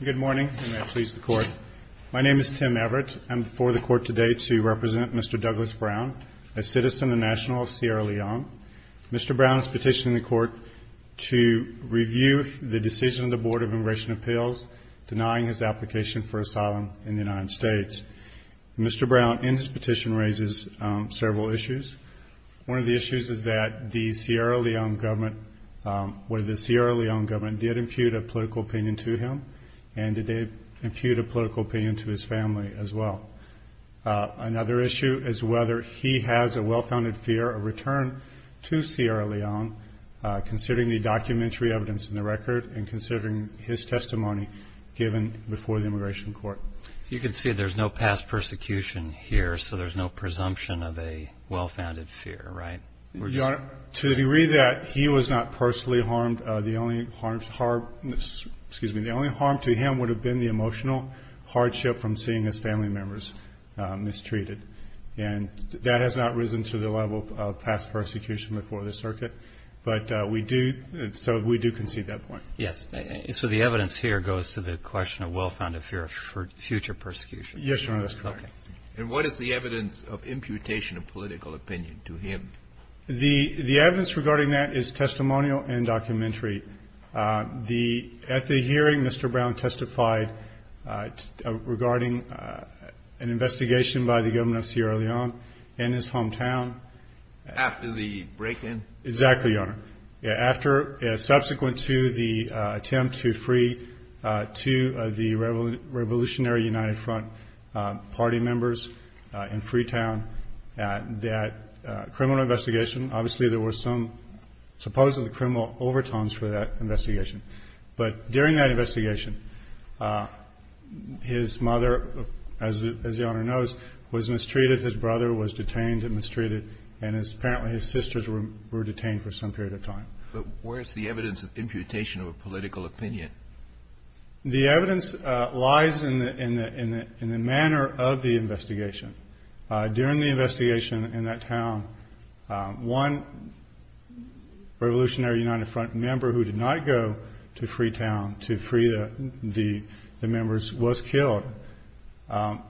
Good morning, and may it please the Court. My name is Tim Everett. I'm before the Court today to represent Mr. Douglas Brown, a citizen and national of Sierra Leone. Mr. Brown is petitioning the Court to review the decision of the Board of Immigration Appeals denying his application for asylum in the United States. Mr. Brown, in his petition, raises several issues. One of the issues is that the Sierra Leone government did impute a political opinion to him, and did they impute a political opinion to his family as well. Another issue is whether he has a well-founded fear of return to Sierra Leone, considering the documentary evidence in the record and considering his testimony given before the Immigration Court. So you can see there's no past persecution here, so there's no presumption of a well-founded fear, right? Your Honor, to the degree that he was not personally harmed, the only harm to him would have been the emotional hardship from seeing his family members mistreated. And that has not risen to the level of past persecution before the circuit, but we do concede that point. Yes. So the evidence here goes to the question of well-founded fear for future persecution. Yes, Your Honor. Okay. And what is the evidence of imputation of political opinion to him? The evidence regarding that is testimonial and documentary. At the hearing, Mr. Brown testified regarding an investigation by the government of Sierra Leone in his hometown. After the break-in? Exactly, Your Honor. Subsequent to the attempt to free two of the Revolutionary United Front party members in Freetown, that criminal investigation, obviously there were some supposedly criminal overtones for that investigation. But during that investigation, his mother, as Your Honor knows, was mistreated. His brother was detained and mistreated. And apparently his sisters were detained for some period of time. But where is the evidence of imputation of a political opinion? The evidence lies in the manner of the investigation. During the investigation in that town, one Revolutionary United Front member who did not go to Freetown to free the members was killed.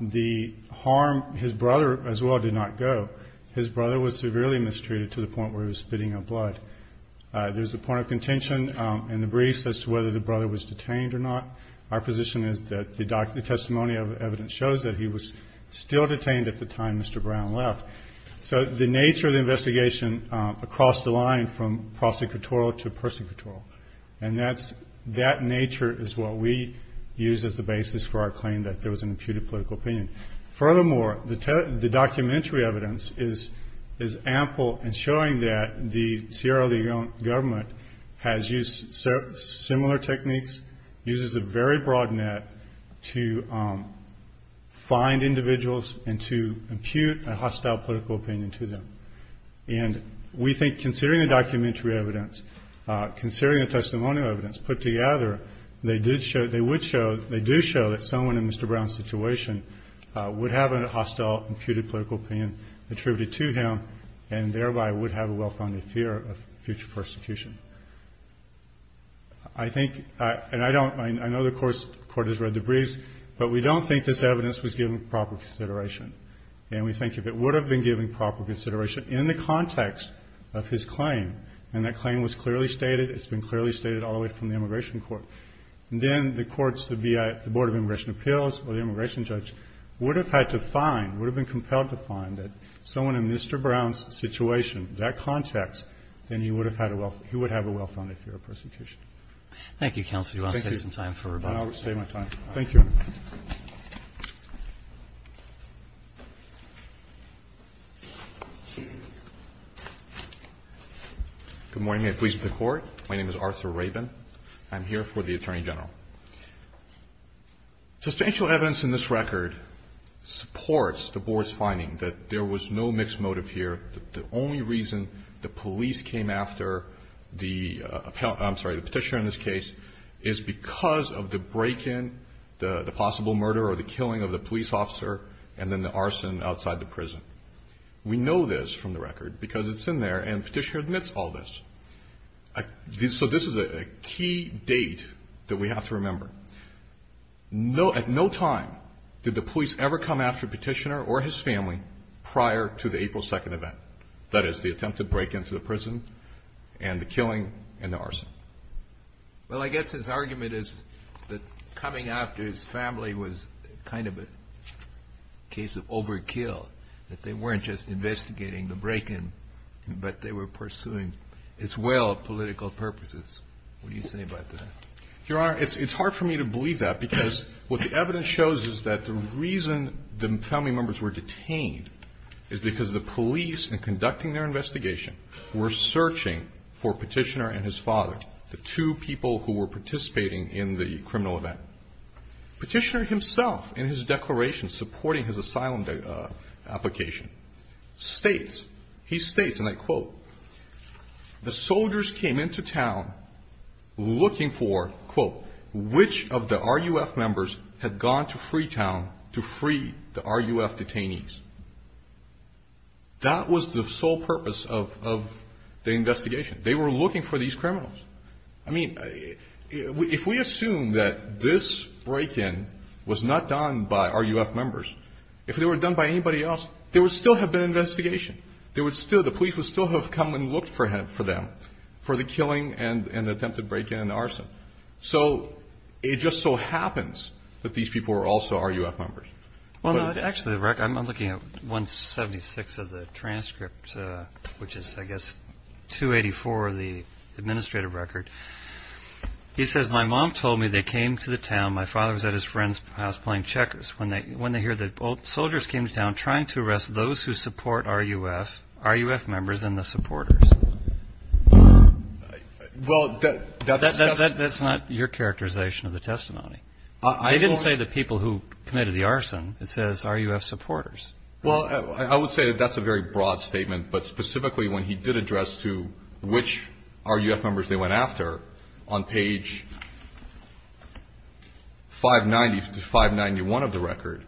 The harm, his brother as well, did not go. His brother was severely mistreated to the point where he was spitting up blood. There's a point of contention in the briefs as to whether the brother was detained or not. Our position is that the testimony of evidence shows that he was still detained at the time Mr. Brown left. So the nature of the investigation across the line from prosecutorial to persecutorial, and that nature is what we use as the basis for our claim that there was an imputed political opinion. Furthermore, the documentary evidence is ample in showing that the Sierra Leone government has used similar techniques, uses a very broad net to find individuals and to impute a hostile political opinion to them. And we think considering the documentary evidence, considering the testimonial evidence put together, they do show that someone in Mr. Brown's situation would have a hostile, imputed political opinion attributed to him and thereby would have a well-founded fear of future persecution. I think, and I know the Court has read the briefs, but we don't think this evidence was given proper consideration. And we think if it would have been given proper consideration in the context of his claim, and that claim was clearly stated, it's been clearly stated all the way from the Immigration Court, then the courts, the BIA, the Board of Immigration Appeals or the immigration judge would have had to find, would have been compelled to find that someone in Mr. Brown's situation, that context, then he would have had a well-founded fear of persecution. Roberts. Thank you, counsel. Do you want to save some time for rebuttal? I'll save my time. Thank you. Good morning. May it please the Court. My name is Arthur Rabin. I'm here for the Attorney General. Substantial evidence in this record supports the Board's finding that there was no mixed motive here, that the only reason the police came after the appellate, I'm sorry, the petitioner in this case, is because of the break-in, the possible murder or the killing of the police officer and then the arson outside the prison. We know this from the record because it's in there and the petitioner admits all this. So this is a key date that we have to remember. At no time did the police ever come after a petitioner or his family prior to the April 2nd event, that is, the attempt to break into the prison and the killing and the arson. Well, I guess his argument is that coming after his family was kind of a case of overkill, that they weren't just investigating the break-in, but they were pursuing as well political purposes. What do you say about that? Your Honor, it's hard for me to believe that because what the evidence shows is that the reason the family members were conducting their investigation were searching for Petitioner and his father, the two people who were participating in the criminal event. Petitioner himself in his declaration supporting his asylum application states, he states, and I quote, the soldiers came into town looking for, quote, which of the RUF members had gone to Freetown to free the RUF detainees. That was the sole purpose of the investigation. They were looking for these criminals. I mean, if we assume that this break-in was not done by RUF members, if it were done by anybody else, there would still have been an investigation. There would still, the police would still have come and looked for them for the killing and attempted break-in and arson. So it just so happens that these people were also RUF members. Well, actually, I'm looking at 176 of the transcript, which is, I guess, 284 of the administrative record. He says, my mom told me they came to the town. My father was at his friend's house playing checkers when they heard that soldiers came to town trying to arrest those who support RUF, RUF members and the supporters. Well, that's not your characterization of the testimony. I didn't say the people who committed the arson. It says RUF supporters. Well, I would say that that's a very broad statement, but specifically when he did address to which RUF members they went after, on page 590 to 591 of the record,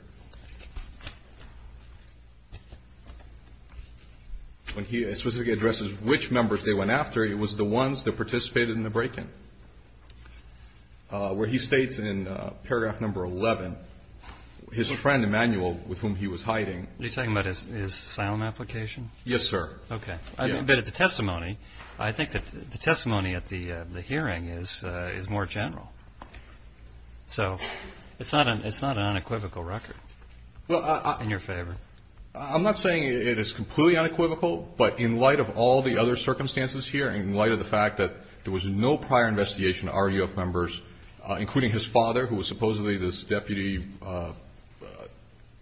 when he specifically addresses which members they went after, it was the ones that participated in the break-in. Where he states in paragraph number 11, his friend, Emanuel, with whom he was hiding. Are you talking about his asylum application? Yes, sir. Okay. But the testimony, I think the testimony at the hearing is more general. So it's not an unequivocal record. In your favor. I'm not saying it is completely unequivocal, but in light of all the other circumstances here, in light of the fact that there was no prior investigation to RUF members, including his father, who was supposedly this deputy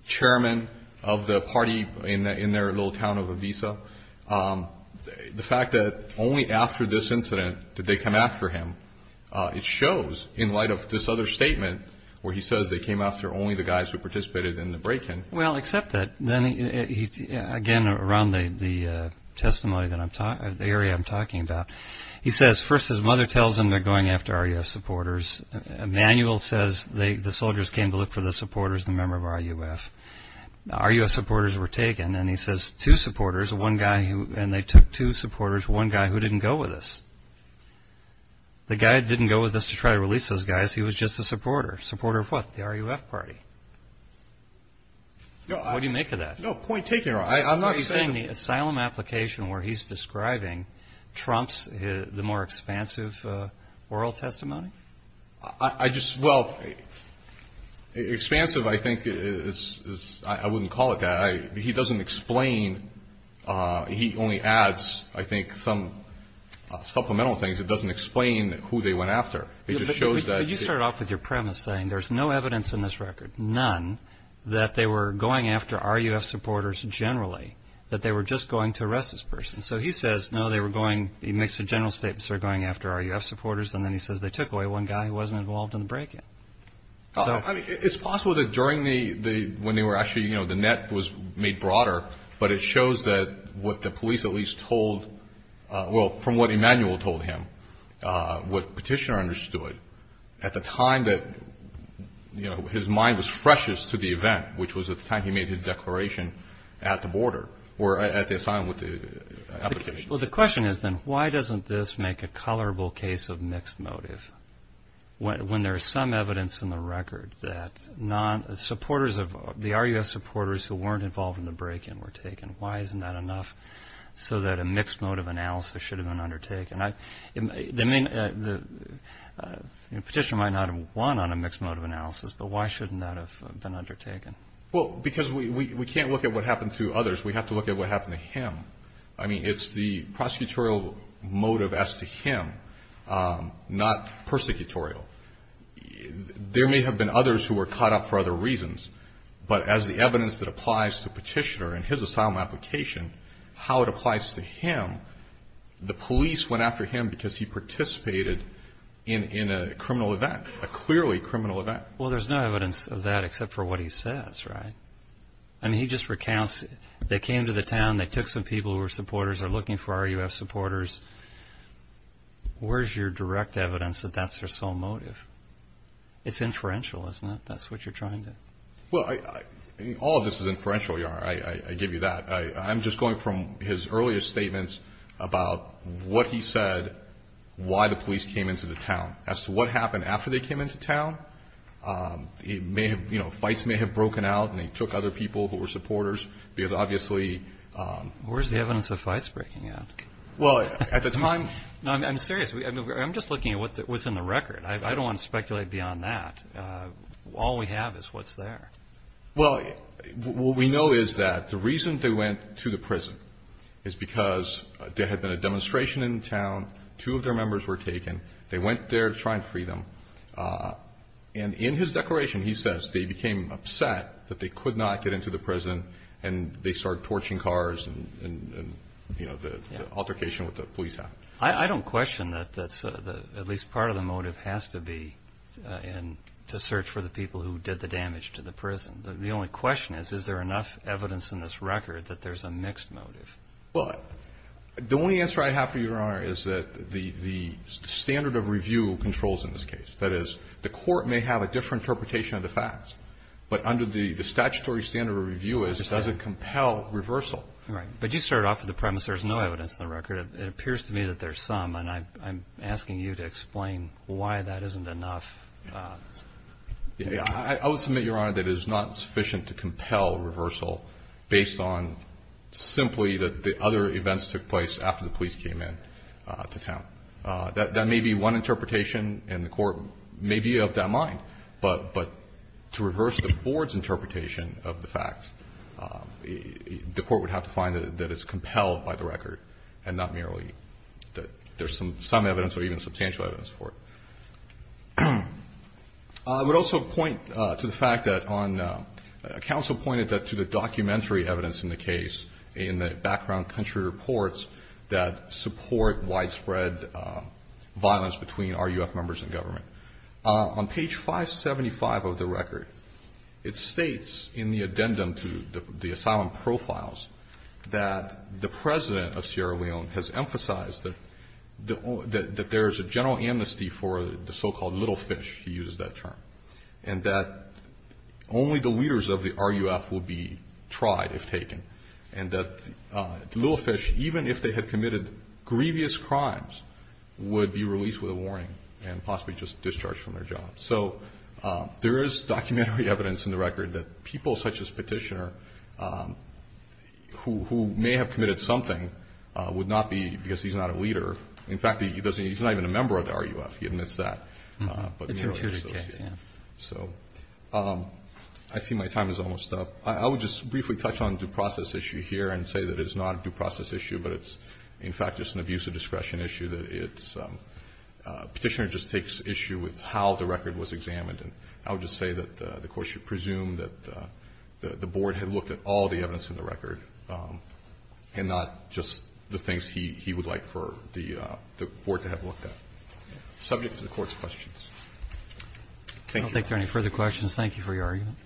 chairman of the party in their little town of Avisa, the fact that only after this incident did they come after him, it shows in light of this other statement where he says they came after only the guys who participated in the break-in. Well, except that, again, around the testimony, the area I'm talking about, he says first his mother tells him they're going after RUF supporters. Emanuel says the soldiers came to look for the supporters, the members of RUF. RUF supporters were taken, and he says two supporters, one guy who, and they took two supporters, one guy who didn't go with us. The guy that didn't go with us to try to release those guys, he was just a supporter. Supporter of what? The RUF party. What do you make of that? No, point taken. I'm not saying the asylum application where he's describing trumps the more expansive oral testimony. I just, well, expansive I think is, I wouldn't call it that. He doesn't explain. He only adds, I think, some supplemental things. It doesn't explain who they went after. You started off with your premise saying there's no evidence in this record, none, that they were going after RUF supporters generally, that they were just going to arrest this person. So he says, no, they were going, he makes a general statement, they were going after RUF supporters, and then he says they took away one guy who wasn't involved in the break-in. It's possible that during the, when they were actually, you know, the net was made broader, but it shows that what the police at least told, well, from what Emanuel told him, what Petitioner understood at the time that, you know, his mind was freshest to the event, which was at the time he made his declaration at the border or at the asylum with the application. Well, the question is then why doesn't this make a colorable case of mixed motive when there is some evidence in the record that supporters of, the RUF supporters who weren't involved in the break-in were taken? Why isn't that enough so that a mixed motive analysis should have been undertaken? I mean, Petitioner might not have won on a mixed motive analysis, but why shouldn't that have been undertaken? Well, because we can't look at what happened to others. We have to look at what happened to him. I mean, it's the prosecutorial motive as to him, not persecutorial. There may have been others who were caught up for other reasons, but as the evidence that applies to Petitioner and his asylum application, how it applies to him, the police went after him because he participated in a criminal event, a clearly criminal event. Well, there's no evidence of that except for what he says, right? I mean, he just recounts they came to the town, they took some people who were supporters, they're looking for RUF supporters. Where's your direct evidence that that's their sole motive? It's inferential, isn't it? That's what you're trying to do. Well, all of this is inferential, I give you that. I'm just going from his earlier statements about what he said, why the police came into the town, as to what happened after they came into town. Fights may have broken out and they took other people who were supporters because obviously... Where's the evidence of fights breaking out? Well, at the time... No, I'm serious. I'm just looking at what's in the record. I don't want to speculate beyond that. All we have is what's there. Well, what we know is that the reason they went to the prison is because there had been a demonstration in town. Two of their members were taken. They went there to try and free them. And in his declaration, he says they became upset that they could not get into the prison and they started torching cars and, you know, the altercation with the police happened. I don't question that that's at least part of the motive has to be to search for the people who did the damage to the prison. The only question is, is there enough evidence in this record that there's a mixed motive? Well, the only answer I have for you, Your Honor, is that the standard of review controls in this case. That is, the court may have a different interpretation of the facts, but under the statutory standard of review, it doesn't compel reversal. Right. But you started off with the premise there's no evidence in the record. It appears to me that there's some, and I'm asking you to explain why that isn't enough. I would submit, Your Honor, that it is not sufficient to compel reversal based on simply that the other events took place after the police came in to town. That may be one interpretation, and the court may be of that mind, but to reverse the board's interpretation of the facts, the court would have to find that it's compelled by the record, and not merely that there's some evidence or even substantial evidence for it. I would also point to the fact that on, counsel pointed to the documentary evidence in the case in the background country reports that support widespread violence between RUF members and government. On page 575 of the record, it states in the addendum to the asylum profiles that the president of Sierra Leone has emphasized that there is a general amnesty for the so-called little fish, he uses that term, and that only the leaders of the RUF will be tried if taken, and that little fish, even if they had committed grievous crimes, would be released with a warning and possibly just discharged from their jobs. So there is documentary evidence in the record that people such as Petitioner, who may have committed something, would not be, because he's not a leader, in fact, he's not even a member of the RUF, he admits that. It's a security case, yeah. So I see my time is almost up. I would just briefly touch on due process issue here and say that it's not a due process issue, but it's, in fact, just an abuse of discretion issue. Petitioner just takes issue with how the record was examined, and I would just say that the Court should presume that the Board had looked at all the evidence in the record and not just the things he would like for the Board to have looked at. Subject to the Court's questions. Thank you. I don't think there are any further questions. Thank you for your argument.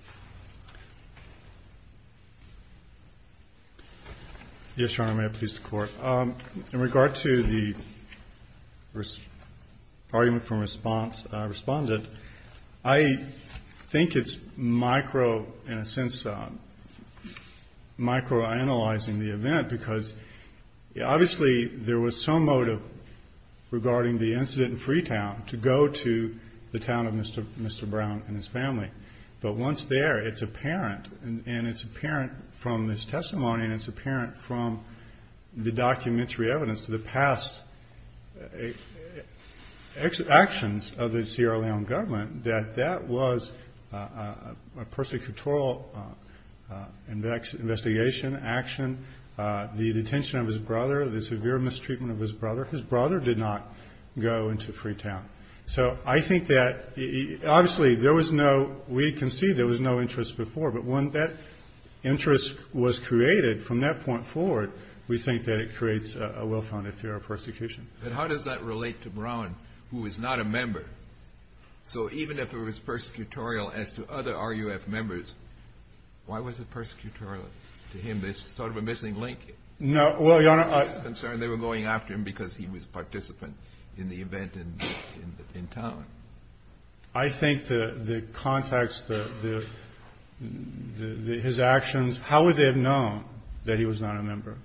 Yes, Your Honor, may it please the Court. In regard to the argument from Respondent, I think it's micro, in a sense, microanalyzing the event, because obviously there was some motive regarding the incident in Freetown to go to the town of Mr. Brown and his family. But once there, it's apparent, and it's apparent from this testimony and it's apparent from the documentary evidence to the past actions of the Sierra Leone government that that was a persecutorial investigation, action, the detention of his brother, the severe mistreatment of his brother. His brother did not go into Freetown. So I think that obviously there was no, we can see there was no interest before, but when that interest was created from that point forward, we think that it creates a well-founded fear of persecution. But how does that relate to Brown, who is not a member? So even if it was persecutorial as to other RUF members, why was it persecutorial to him, this sort of a missing link? No, well, Your Honor, I… They were going after him because he was a participant in the event in town. I think the context, his actions, how would they have known that he was not a member,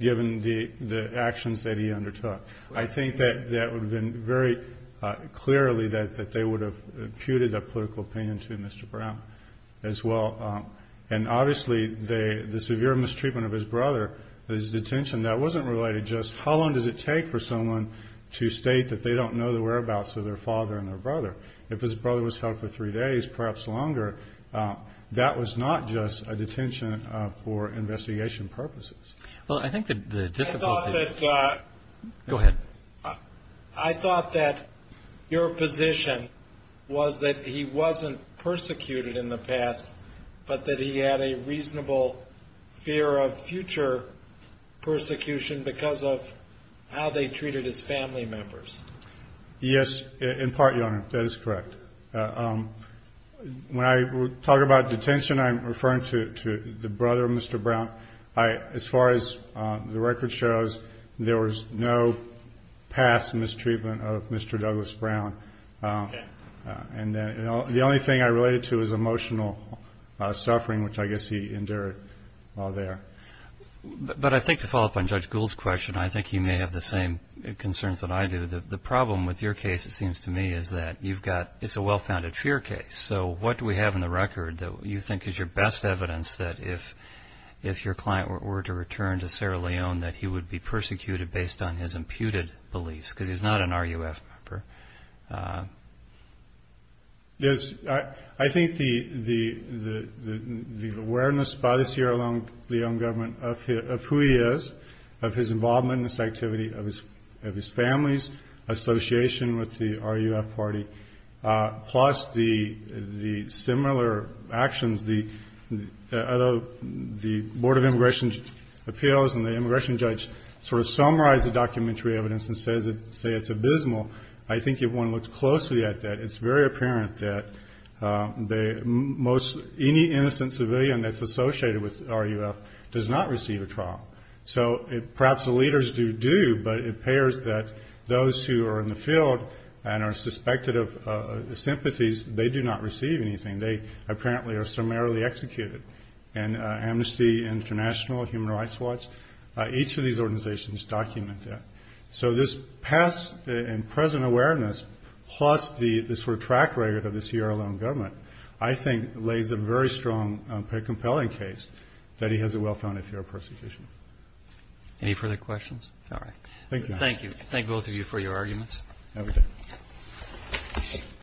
given the actions that he undertook? I think that would have been very clearly that they would have imputed that political opinion to Mr. Brown as well. And obviously the severe mistreatment of his brother, his detention, that wasn't related just how long does it take for someone to state that they don't know the whereabouts of their father and their brother. If his brother was held for three days, perhaps longer, that was not just a detention for investigation purposes. Well, I think the difficulty… I thought that… Go ahead. I thought that your position was that he wasn't persecuted in the past, but that he had a reasonable fear of future persecution because of how they treated his family members. Yes, in part, Your Honor, that is correct. When I talk about detention, I'm referring to the brother of Mr. Brown. As far as the record shows, there was no past mistreatment of Mr. Douglas Brown. Okay. The only thing I related to was emotional suffering, which I guess he endured while there. But I think to follow up on Judge Gould's question, I think you may have the same concerns that I do. The problem with your case, it seems to me, is that it's a well-founded fear case. So what do we have in the record that you think is your best evidence that if your client were to return to Sarah Leon, that he would be persecuted based on his imputed beliefs because he's not an RUF member? Yes. I think the awareness by the Sarah Leon government of who he is, of his involvement in this activity, of his family's association with the RUF party, plus the similar actions, the Board of Immigration Appeals and the immigration judge sort of summarize the documentary evidence and say it's abysmal. I think if one looks closely at that, it's very apparent that any innocent civilian that's associated with RUF does not receive a trial. So perhaps the leaders do, but it appears that those who are in the field and are suspected of sympathies, they do not receive anything. They apparently are summarily executed. And Amnesty International, Human Rights Watch, each of these organizations documents that. So this past and present awareness, plus the sort of track record of the Sarah Leon government, I think lays a very strong compelling case that he has a well-founded fear of persecution. Any further questions? All right. Thank you. Thank you. Thank both of you for your arguments. No, we did.